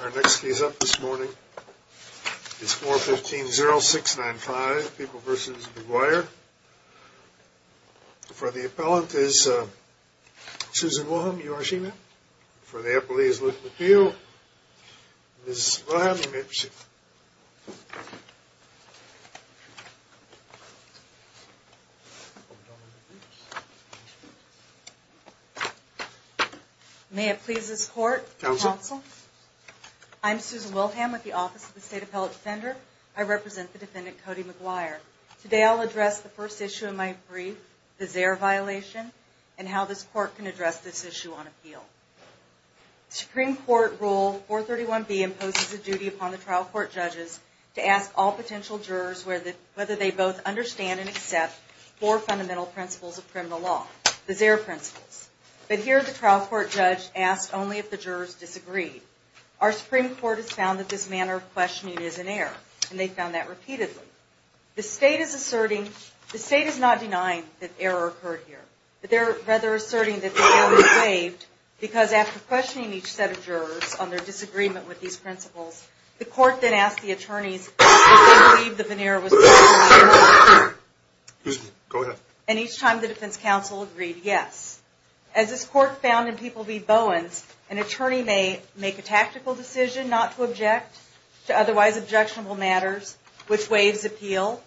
Our next case up this morning is 415-0695, People v. McGuire. For the appellant is Susan Wilhelm. You are she, ma'am? For the appellee is Luke McPeel. Ms. Wilhelm, you may proceed. May it please this court and counsel, I'm Susan Wilhelm with the Office of the State Appellate Defender. I represent the defendant, Cody McGuire. Today I'll address the first issue of my brief, the Zaire violation, and how this court can address this issue on appeal. Supreme Court Rule 431B imposes a duty upon the trial court judges to ask all potential jurors whether they both understand and accept four fundamental principles of criminal law, the Zaire principles. But here the trial court judge asked only if the jurors disagreed. Our Supreme Court has found that this manner of questioning is an error, and they've found that repeatedly. The state is asserting, the state is not denying that error occurred here, but they're rather asserting that the error was waived because after questioning each set of jurors on their disagreement with these principles, the court then asked the attorneys if they believed that an error was made. And each time the defense counsel agreed yes. As this court found in People v. Bowens, an attorney may make a tactical decision not to object to otherwise objectionable matters, which waives the appeal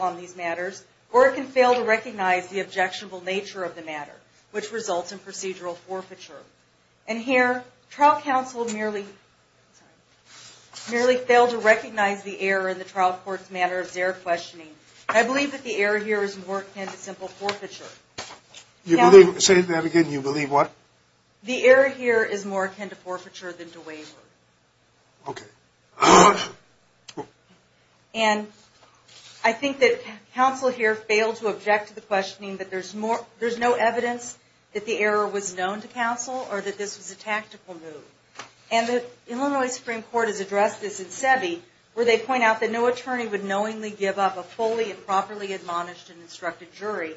on these matters, or it can fail to recognize the objectionable nature of the matter, which results in procedural forfeiture. And here, trial counsel merely failed to recognize the error in the trial court's manner of Zaire questioning. I believe that the error here is more akin to simple forfeiture. You believe, say that again, you believe what? The error here is more akin to forfeiture than to waiver. Okay. And I think that counsel here failed to object to the questioning that there's no evidence that the error was known to counsel, or that this was a tactical move. And the Illinois Supreme Court has addressed this in SEBI, where they point out that no attorney would knowingly give up a fully and properly admonished and instructed jury.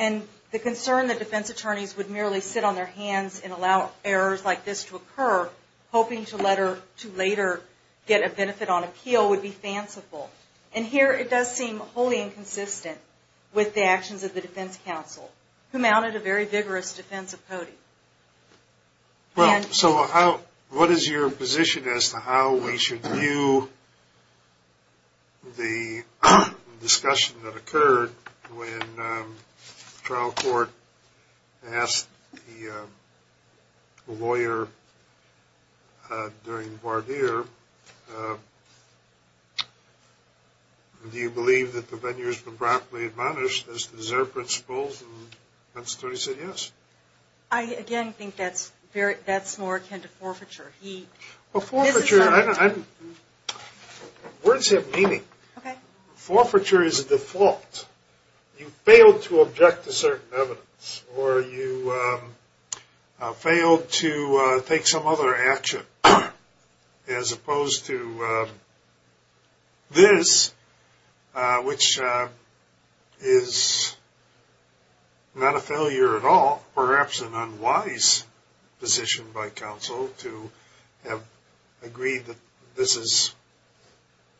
And the concern that defense attorneys would merely sit on their hands and allow errors like this to occur, hoping to later get a benefit on appeal, would be fanciful. And here it does seem wholly inconsistent with the actions of the defense counsel, who mounted a very vigorous defense of Cody. So what is your position as to how we should view the discussion that occurred when the trial court asked the lawyer during the voir dire, do you believe that the venue has been properly admonished as the Zaire principles and the defense attorney said yes? I again think that's more akin to forfeiture. Forfeiture, words have meaning. Okay. Forfeiture is a default. You failed to object to certain evidence or you failed to take some other action as opposed to this, which is not a failure at all. I think it's perhaps an unwise position by counsel to have agreed that this is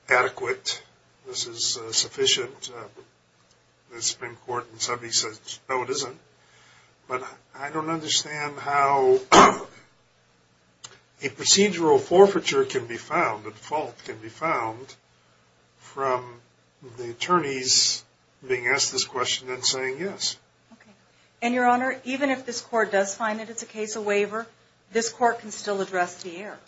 adequate, this is sufficient. The Supreme Court in SEBI says no it isn't. But I don't understand how a procedural forfeiture can be found, a default can be found, from the attorneys being asked this question and saying yes. Okay. And your honor, even if this court does find that it's a case of waiver, this court can still address the error.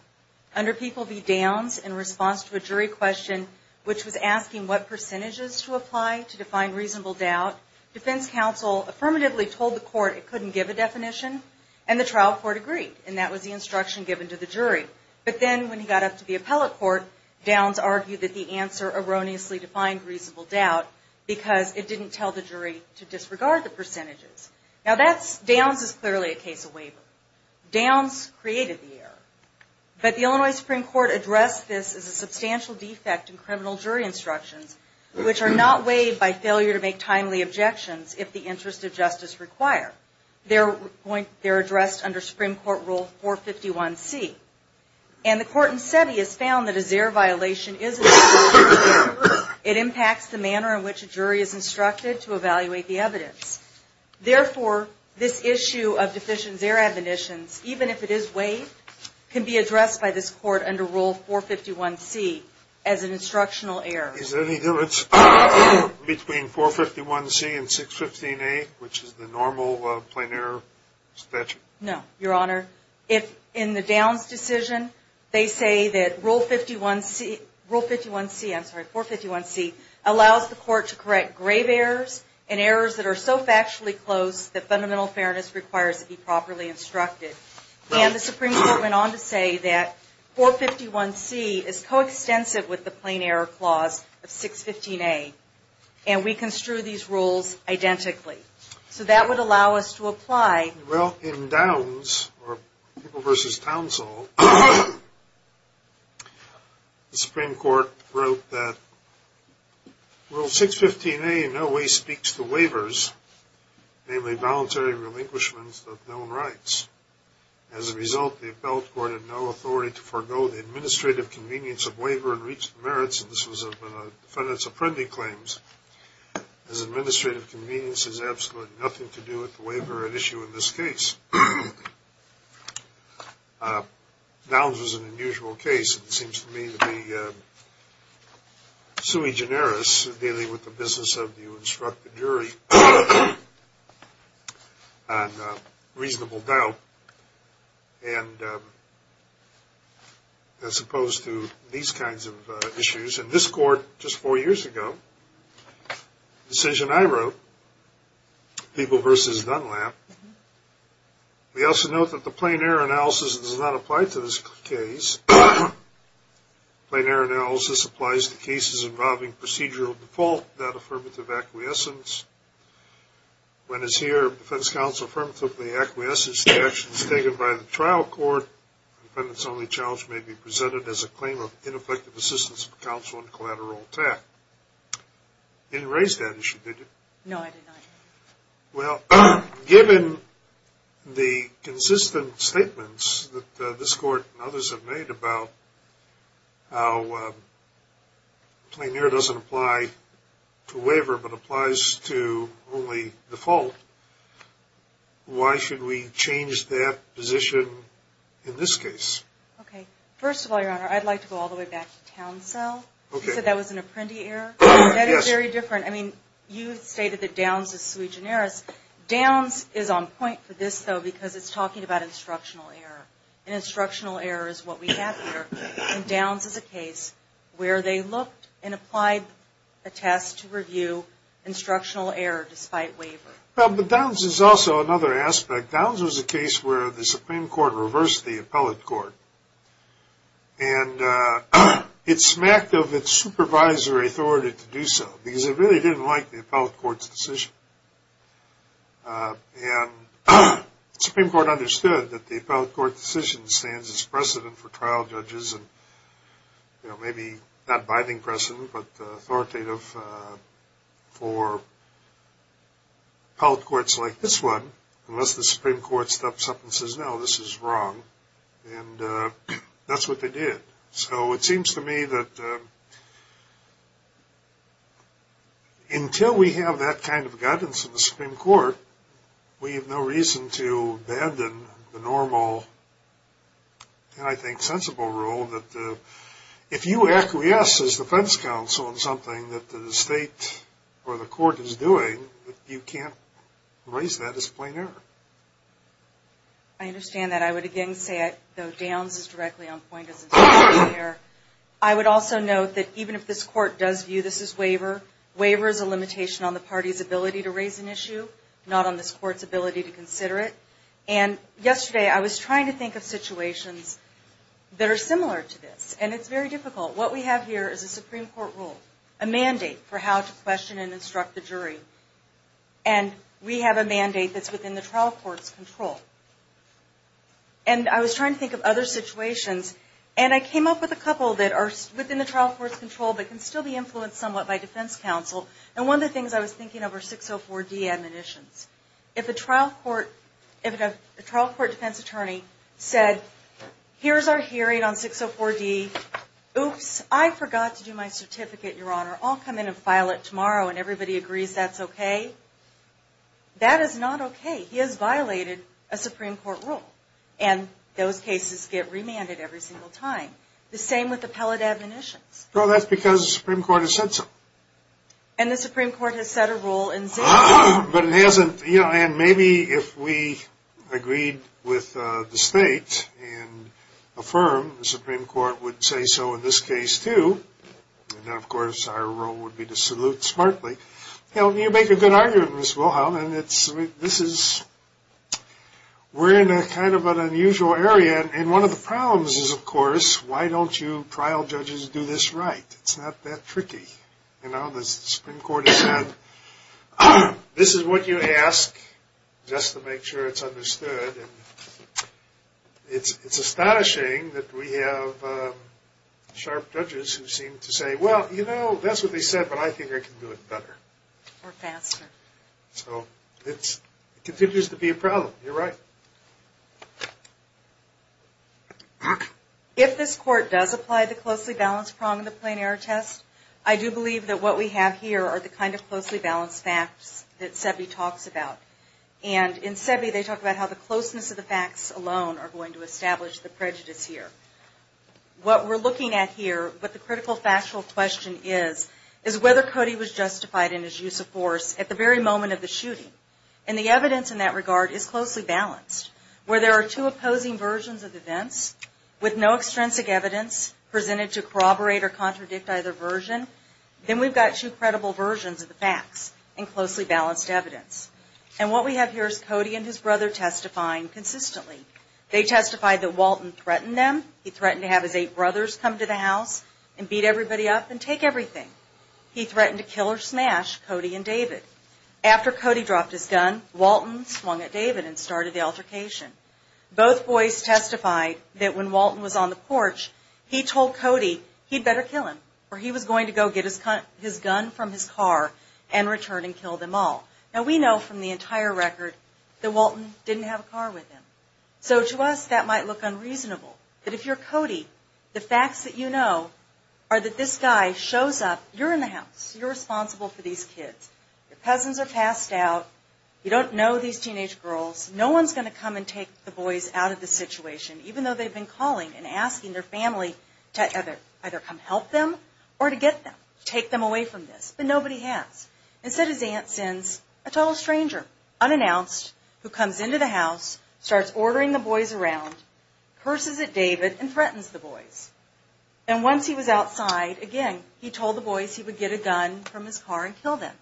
Under P.V. Downs, in response to a jury question which was asking what percentages to apply to define reasonable doubt, defense counsel affirmatively told the court it couldn't give a definition and the trial court agreed. And that was the instruction given to the jury. But then when he got up to the appellate court, Downs argued that the answer erroneously defined reasonable doubt because it didn't tell the jury to disregard the percentages. Now that's, Downs is clearly a case of waiver. Downs created the error. But the Illinois Supreme Court addressed this as a substantial defect in criminal jury instructions, which are not weighed by failure to make timely objections if the interest of justice require. They're addressed under Supreme Court Rule 451C. And the court in SEBI has found that a ZEHR violation is a ZEHR violation. It impacts the manner in which a jury is instructed to evaluate the evidence. Therefore, this issue of deficient ZEHR admonitions, even if it is weighed, can be addressed by this court under Rule 451C as an instructional error. Is there any difference between 451C and 615A, which is the normal plain error statute? No, Your Honor. In the Downs decision, they say that Rule 51C allows the court to correct grave errors and errors that are so factually close that fundamental fairness requires it be properly instructed. And the Supreme Court went on to say that 451C is coextensive with the plain error clause of 615A. And we construe these rules identically. So that would allow us to apply. Well, in Downs, or People v. Townsall, the Supreme Court wrote that Rule 615A in no way speaks to waivers, namely voluntary relinquishments of known rights. As a result, the appellate court had no authority to forego the administrative convenience of waiver and reach the merits of this defendant's appending claims, as administrative convenience has absolutely nothing to do with the waiver at issue in this case. Downs was an unusual case. It seems to me that the sui generis, dealing with the business of you instruct the jury on reasonable doubt, as opposed to these kinds of issues. In this court, just four years ago, the decision I wrote, People v. Dunlap, we also note that the plain error analysis does not apply to this case. Plain error analysis applies to cases involving procedural default without affirmative acquiescence. When, as here, the defense counsel affirmatively acquiesces to the actions taken by the trial court, the defendant's only challenge may be presented as a claim of ineffective assistance of counsel in collateral attack. You didn't raise that issue, did you? No, I did not. Well, given the consistent statements that this court and others have made about how plain error doesn't apply to waiver but applies to only default, why should we change that position in this case? Okay. First of all, Your Honor, I'd like to go all the way back to Townsell. Okay. You said that was an apprendi error? Yes. That is very different. I mean, you stated that Downs is sui generis. Downs is on point for this, though, because it's talking about instructional error. And instructional error is what we have here. And Downs is a case where they looked and applied a test to review instructional error despite waiver. Well, but Downs is also another aspect. Downs was a case where the Supreme Court reversed the appellate court, and it smacked of its supervisory authority to do so because it really didn't like the appellate court's decision. And the Supreme Court understood that the appellate court decision stands as precedent for trial judges and maybe not binding precedent but authoritative for appellate courts like this one, unless the Supreme Court steps up and says, no, this is wrong. And that's what they did. So it seems to me that until we have that kind of guidance in the Supreme Court, we have no reason to abandon the normal, and I think sensible rule, that if you acquiesce as defense counsel in something that the state or the court is doing, you can't raise that as plain error. I understand that. I would again say, though, Downs is directly on point as instructional error. I would also note that even if this court does view this as waiver, waiver is a limitation on the party's ability to raise an issue, not on this court's ability to consider it. And yesterday I was trying to think of situations that are similar to this, and it's very difficult. What we have here is a Supreme Court rule, a mandate for how to question and instruct the jury, and we have a mandate that's within the trial court's control. And I was trying to think of other situations, and I came up with a couple that are within the trial court's control but can still be influenced somewhat by defense counsel. And one of the things I was thinking of are 604D admonitions. If a trial court defense attorney said, here's our hearing on 604D, oops, I forgot to do my certificate, Your Honor, I'll come in and file it tomorrow, and everybody agrees that's okay, that is not okay. He has violated a Supreme Court rule, and those cases get remanded every single time. The same with appellate admonitions. Well, that's because the Supreme Court has said so. And the Supreme Court has set a rule in 604D. But it hasn't, you know, and maybe if we agreed with the state and affirmed, the Supreme Court would say so in this case too, and then of course our role would be to salute smartly. You know, you make a good argument, Ms. Wilhelm, and this is, we're in kind of an unusual area, and one of the problems is, of course, why don't you trial judges do this right? It's not that tricky. You know, the Supreme Court has said, this is what you ask just to make sure it's understood. It's astonishing that we have sharp judges who seem to say, well, you know, that's what they said, but I think I can do it better. Or faster. So it continues to be a problem. You're right. If this Court does apply the closely balanced prong of the plain error test, I do believe that what we have here are the kind of closely balanced facts that SEBI talks about. And in SEBI they talk about how the closeness of the facts alone are going to establish the prejudice here. What we're looking at here, what the critical factual question is, is whether Cody was justified in his use of force at the very moment of the shooting. And the evidence in that regard is closely balanced. Where there are two opposing versions of events, with no extrinsic evidence presented to corroborate or contradict either version, then we've got two credible versions of the facts and closely balanced evidence. And what we have here is Cody and his brother testifying consistently. They testified that Walton threatened them. He threatened to have his eight brothers come to the house and beat everybody up and take everything. He threatened to kill or smash Cody and David. After Cody dropped his gun, Walton swung at David and started the altercation. Both boys testified that when Walton was on the porch, he told Cody he'd better kill him, or he was going to go get his gun from his car and return and kill them all. Now, we know from the entire record that Walton didn't have a car with him. So to us, that might look unreasonable. But if you're Cody, the facts that you know are that this guy shows up. You're in the house. You're responsible for these kids. Your cousins are passed out. You don't know these teenage girls. No one's going to come and take the boys out of the situation, even though they've been calling and asking their family to either come help them or to get them, take them away from this. But nobody has. Instead, his aunt sends a total stranger, unannounced, who comes into the house, starts ordering the boys around, curses at David, and threatens the boys. And once he was outside, again, he told the boys he would get a gun from his car and kill them.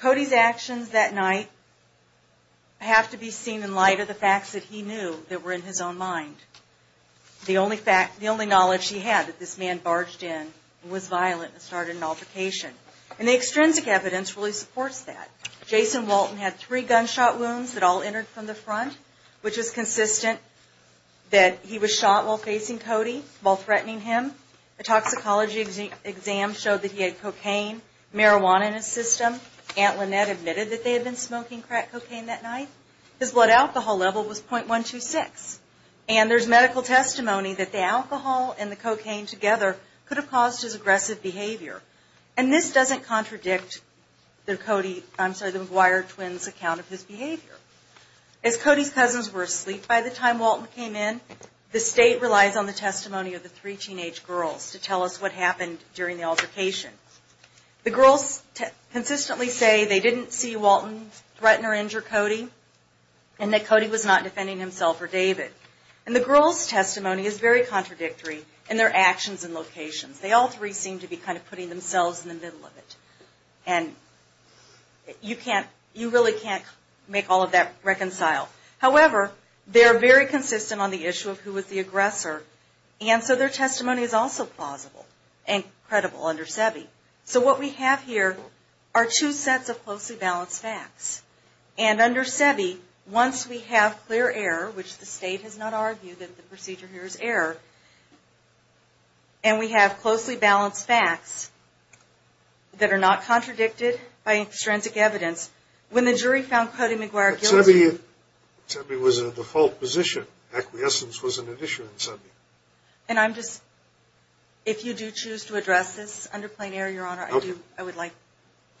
Cody's actions that night have to be seen in light of the facts that he knew that were in his own mind. The only knowledge he had that this man barged in and was violent and started an altercation. And the extrinsic evidence really supports that. Jason Walton had three gunshot wounds that all entered from the front, which is consistent that he was shot while facing Cody, while threatening him. A toxicology exam showed that he had cocaine, marijuana in his system. Aunt Lynette admitted that they had been smoking crack cocaine that night. His blood alcohol level was .126. And there's medical testimony that the alcohol and the cocaine together could have caused his aggressive behavior. And this doesn't contradict the McGuire twins' account of his behavior. As Cody's cousins were asleep by the time Walton came in, the state relies on the testimony of the three teenage girls to tell us what happened during the altercation. The girls consistently say they didn't see Walton threaten or injure Cody, and that Cody was not defending himself or David. And the girls' testimony is very contradictory in their actions and locations. They all three seem to be kind of putting themselves in the middle of it. And you really can't make all of that reconcile. However, they're very consistent on the issue of who was the aggressor, and so their testimony is also plausible and credible under SEBI. So what we have here are two sets of closely balanced facts. And under SEBI, once we have clear error, which the state has not argued that the procedure here is error, and we have closely balanced facts that are not contradicted by extrinsic evidence, when the jury found Cody McGuire guilty. But SEBI was in a default position. Acquiescence wasn't an issue in SEBI. And I'm just, if you do choose to address this under plain error, Your Honor, I would like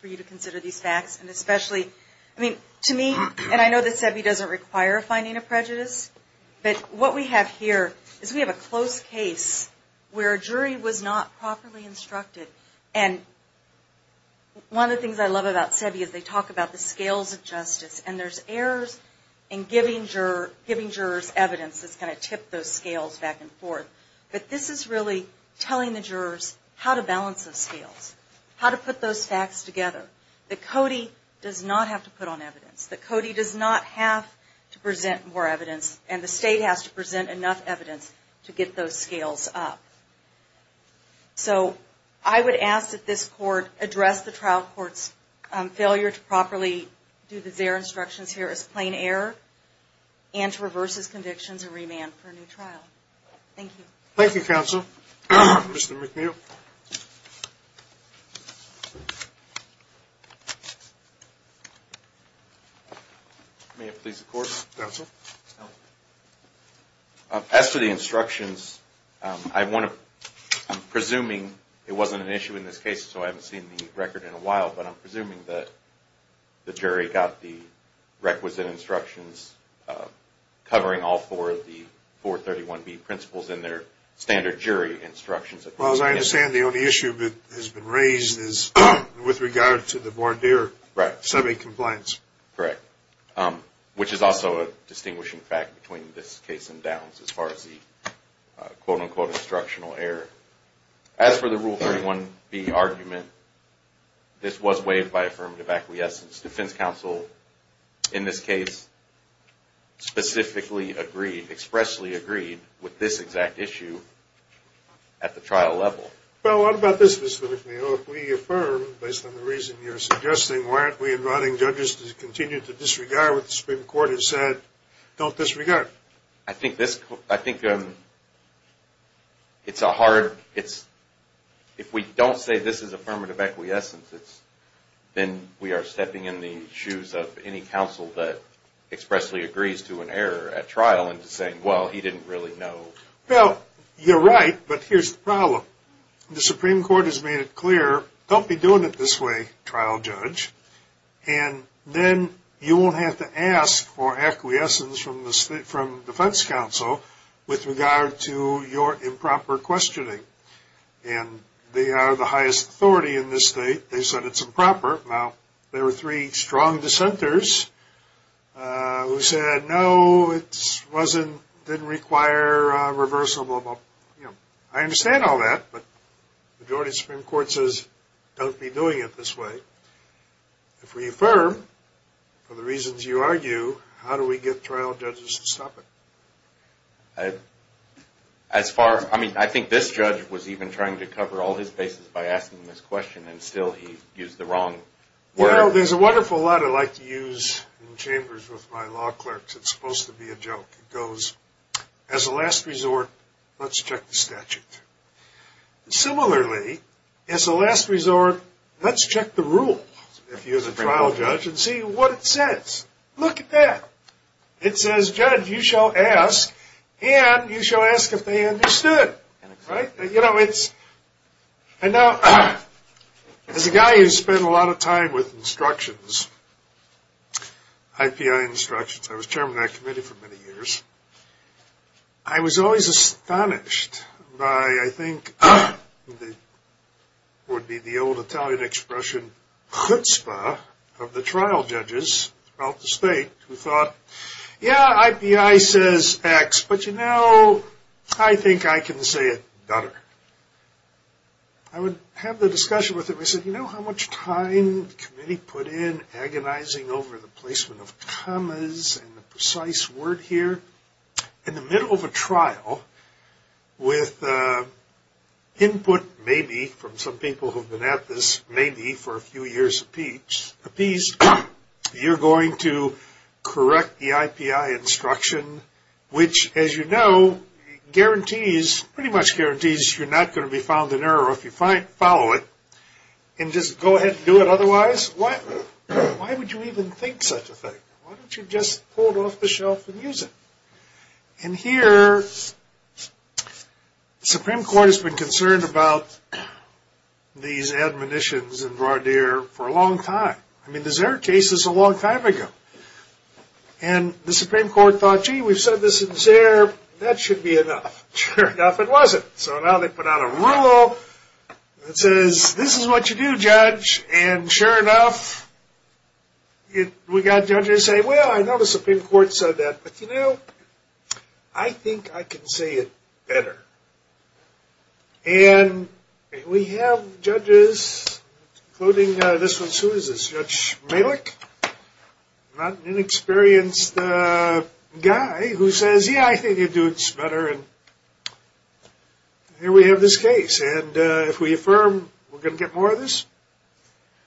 for you to consider these facts. And especially, I mean, to me, and I know that SEBI doesn't require finding a prejudice, but what we have here is we have a close case where a jury was not properly instructed. And one of the things I love about SEBI is they talk about the scales of justice. And there's errors in giving jurors evidence that's going to tip those scales back and forth. But this is really telling the jurors how to balance those scales, how to put those facts together, that Cody does not have to put on evidence, that Cody does not have to present more evidence, and the state has to present enough evidence to get those scales up. So I would ask that this Court address the trial court's failure to properly do their instructions here as plain error and to reverse his convictions and remand for a new trial. Thank you. Thank you, Counsel. Mr. McNeil. May it please the Court? Counsel. As to the instructions, I'm presuming it wasn't an issue in this case, so I haven't seen the record in a while, but I'm presuming that the jury got the requisite instructions covering all four of the 431B principles in their standard jury instructions. Well, as I understand, the only issue that has been raised is with regard to the voir dire SEBI compliance. Correct. Which is also a distinguishing fact between this case and Downs as far as the quote-unquote instructional error. As for the Rule 31B argument, this was waived by affirmative acquiescence. Defense counsel in this case specifically agreed, expressly agreed, with this exact issue at the trial level. Well, what about this, Mr. McNeil? If we affirm based on the reason you're suggesting, why aren't we inviting judges to continue to disregard what the Supreme Court has said? Don't disregard. I think it's a hard, if we don't say this is affirmative acquiescence, then we are stepping in the shoes of any counsel that expressly agrees to an error at trial and saying, well, he didn't really know. Well, you're right, but here's the problem. The Supreme Court has made it clear, don't be doing it this way, trial judge, and then you won't have to ask for acquiescence from defense counsel with regard to your improper questioning. And they are the highest authority in this state. They said it's improper. Now, there were three strong dissenters who said, no, it didn't require a reversal. I understand all that, but the majority of the Supreme Court says, don't be doing it this way. If we affirm for the reasons you argue, how do we get trial judges to stop it? As far, I mean, I think this judge was even trying to cover all his bases by asking this question, and still he used the wrong word. Well, there's a wonderful lot I like to use in chambers with my law clerks. It's supposed to be a joke. It goes, as a last resort, let's check the statute. Similarly, as a last resort, let's check the rule, if you're the trial judge, and see what it says. Look at that. It says, judge, you shall ask, and you shall ask if they understood, right? You know, it's, and now, as a guy who's spent a lot of time with instructions, IPI instructions, I was chairman of that committee for many years, I was always astonished by, I think, what would be the old Italian expression, chutzpah, of the trial judges throughout the state, who thought, yeah, IPI says X, but, you know, I think I can say it better. I would have the discussion with them. I said, you know how much time the committee put in agonizing over the placement of commas and the precise word here? In the middle of a trial, with input maybe from some people who have been at this maybe for a few years apiece, you're going to correct the IPI instruction, which, as you know, guarantees, pretty much guarantees you're not going to be found in error if you follow it, and just go ahead and do it otherwise? Why would you even think such a thing? Why don't you just pull it off the shelf and use it? And here, the Supreme Court has been concerned about these admonitions in voir dire for a long time. I mean, the Zare case is a long time ago. And the Supreme Court thought, gee, we've said this in Zare, that should be enough. Sure enough, it wasn't. So now they put out a rule that says this is what you do, judge. And sure enough, we got judges say, well, I know the Supreme Court said that, but, you know, I think I can say it better. And we have judges, including this one, who is this, Judge Malik? Not an inexperienced guy who says, yeah, I think you do this better. And here we have this case. And if we affirm, we're going to get more of this?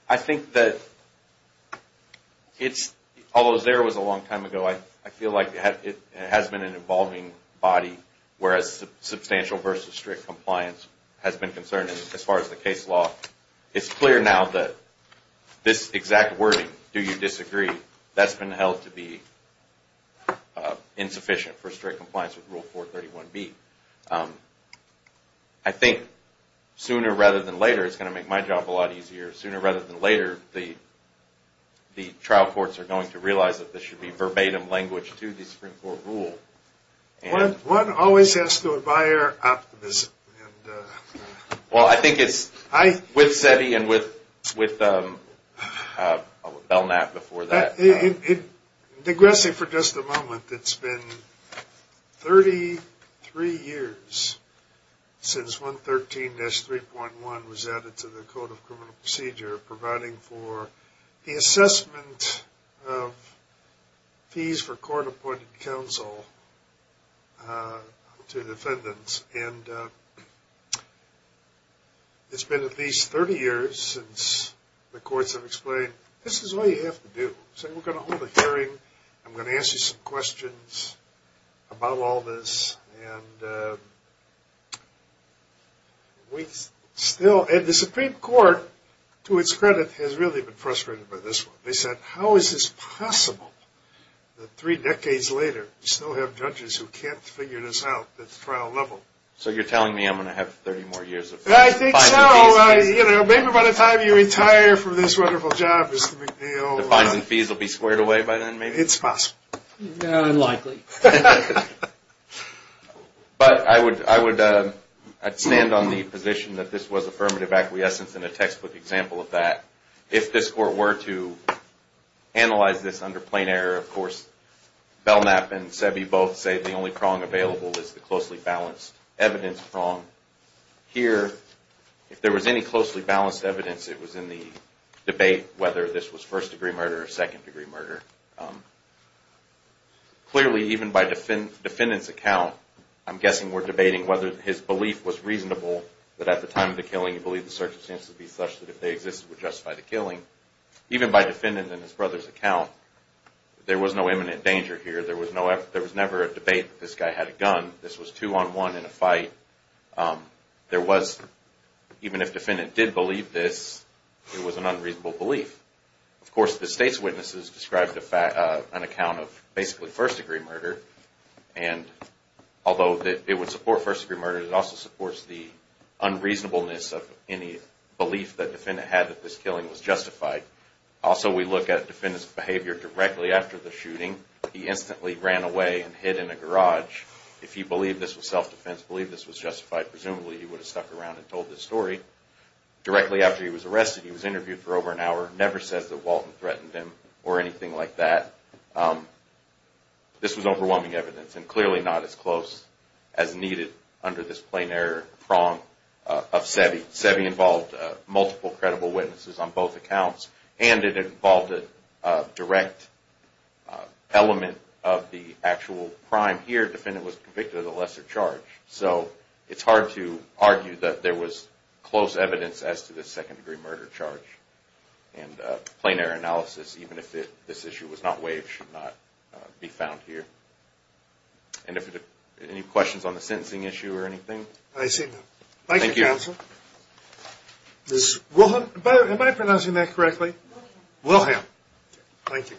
I think that it's, although Zare was a long time ago, I feel like it has been an evolving body, whereas substantial versus strict compliance has been concerned as far as the case law. It's clear now that this exact wording, do you disagree, that's been held to be insufficient for strict compliance with Rule 431B. I think sooner rather than later, it's going to make my job a lot easier, sooner rather than later the trial courts are going to realize that this should be verbatim language to the Supreme Court rule. One always has to admire optimism. Well, I think it's with SETI and with Belknap before that. Digressing for just a moment, it's been 33 years since 113-3.1 was added to the Code of Criminal Procedure providing for the assessment of fees for court appointed counsel to defendants. And it's been at least 30 years since the courts have explained, this is all you have to do. We're going to hold a hearing. I'm going to ask you some questions about all this. And the Supreme Court, to its credit, has really been frustrated by this one. They said, how is this possible that three decades later, we still have judges who can't figure this out at the trial level? So you're telling me I'm going to have 30 more years of fines and fees? I think so. Maybe by the time you retire from this wonderful job, Mr. McNeil. The fines and fees will be squared away by then, maybe? It's possible. Unlikely. But I would stand on the position that this was affirmative acquiescence and a textbook example of that. If this court were to analyze this under plain error, of course, Belknap and Sebi both say the only prong available is the closely balanced evidence prong. Here, if there was any closely balanced evidence, it was in the debate whether this was first degree murder or second degree murder. Clearly, even by defendant's account, I'm guessing we're debating whether his belief was reasonable that at the time of the killing he believed the circumstances would be such that if they existed, it would justify the killing. Even by defendant and his brother's account, there was no imminent danger here. There was never a debate that this guy had a gun. This was two-on-one in a fight. Even if defendant did believe this, it was an unreasonable belief. Of course, the state's witnesses described an account of basically first degree murder. Although it would support first degree murder, it also supports the unreasonableness of any belief that defendant had that this killing was justified. Also, we look at defendant's behavior directly after the shooting. He instantly ran away and hid in a garage. If he believed this was self-defense, believed this was justified, presumably he would have stuck around and told this story. Directly after he was arrested, he was interviewed for over an hour. Never says that Walton threatened him or anything like that. This was overwhelming evidence and clearly not as close as needed under this plain error prong of SEBI. SEBI involved multiple credible witnesses on both accounts, and it involved a direct element of the actual crime. Here, defendant was convicted of the lesser charge, so it's hard to argue that there was close evidence as to this second degree murder charge. Plain error analysis, even if this issue was not waived, should not be found here. Any questions on the sentencing issue or anything? I see none. Thank you, counsel. Ms. Wilhelm? Am I pronouncing that correctly? Wilhelm. Wilhelm. Thank you.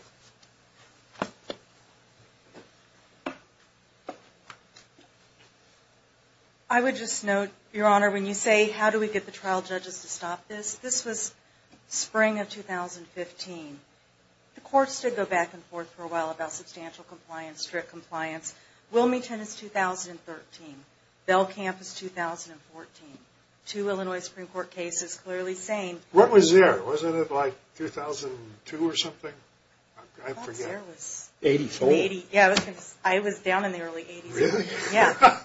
I would just note, Your Honor, when you say how do we get the trial judges to stop this, this was spring of 2015. The courts did go back and forth for a while about substantial compliance, strict compliance. Wilmington is 2013. Bell Camp is 2014. Two Illinois Supreme Court cases clearly saying... What was there? Wasn't it like 2002 or something? I forget. I thought there was... 84. Yeah, I was down in the early 80s. Really? Yeah.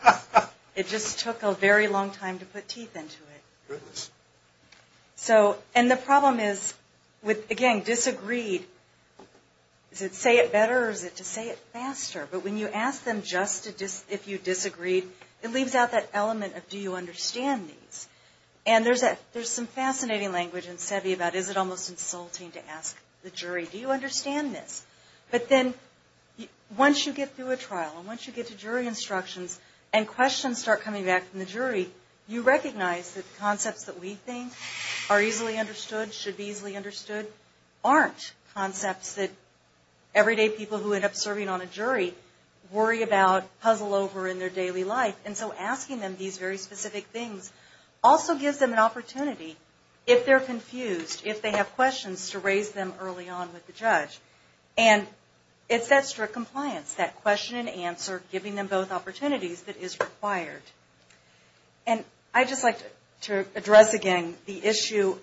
It just took a very long time to put teeth into it. Goodness. So... And the problem is with, again, disagreed... Is it to say it better or is it to say it faster? But when you ask them just if you disagreed, it leaves out that element of do you understand these? And there's some fascinating language in SEBI about is it almost insulting to ask the jury, do you understand this? But then once you get through a trial and once you get to jury instructions and questions start coming back from the jury, you recognize that concepts that we think are easily understood, should be easily understood, aren't concepts that everyday people who end up serving on a jury worry about, puzzle over in their daily life. And so asking them these very specific things also gives them an opportunity, if they're confused, if they have questions, to raise them early on with the judge. And it's that strict compliance, that question and answer, giving them both opportunities that is required. And I'd just like to address again the issue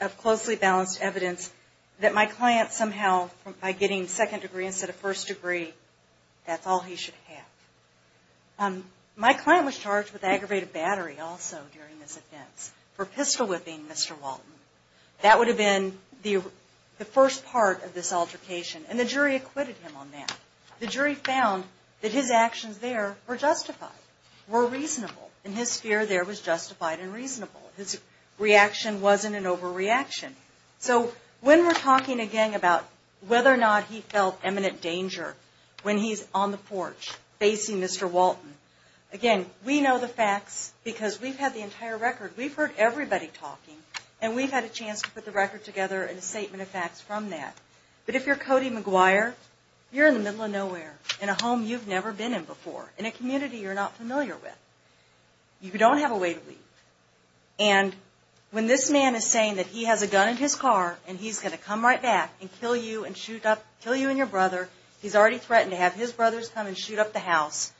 of closely balanced evidence that my client somehow, by getting second degree instead of first degree, that's all he should have. My client was charged with aggravated battery also during this offense for pistol whipping Mr. Walton. That would have been the first part of this altercation, and the jury acquitted him on that. The jury found that his actions there were justified, were reasonable, and his fear there was justified and reasonable. His reaction wasn't an overreaction. So when we're talking again about whether or not he felt eminent danger when he's on the porch facing Mr. Walton, again, we know the facts because we've had the entire record. We've heard everybody talking, and we've had a chance to put the record together and a statement of facts from that. But if you're Cody McGuire, you're in the middle of nowhere, in a home you've never been in before, in a community you're not familiar with. You don't have a way to leave. And when this man is saying that he has a gun in his car and he's going to come right back and kill you and shoot up, kill you and your brother, he's already threatened to have his brothers come and shoot up the house,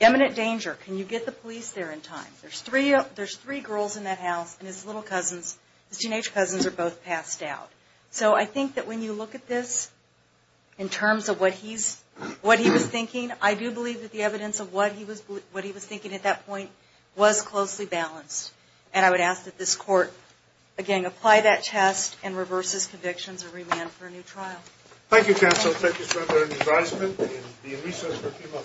eminent danger, can you get the police there in time? There's three girls in that house and his little cousins, his teenage cousins, are both passed out. So I think that when you look at this in terms of what he was thinking, I do believe that the evidence of what he was thinking at that point was closely balanced. And I would ask that this court, again, apply that test and reverse his convictions and remand for a new trial. Thank you, counsel. Thank you, sir.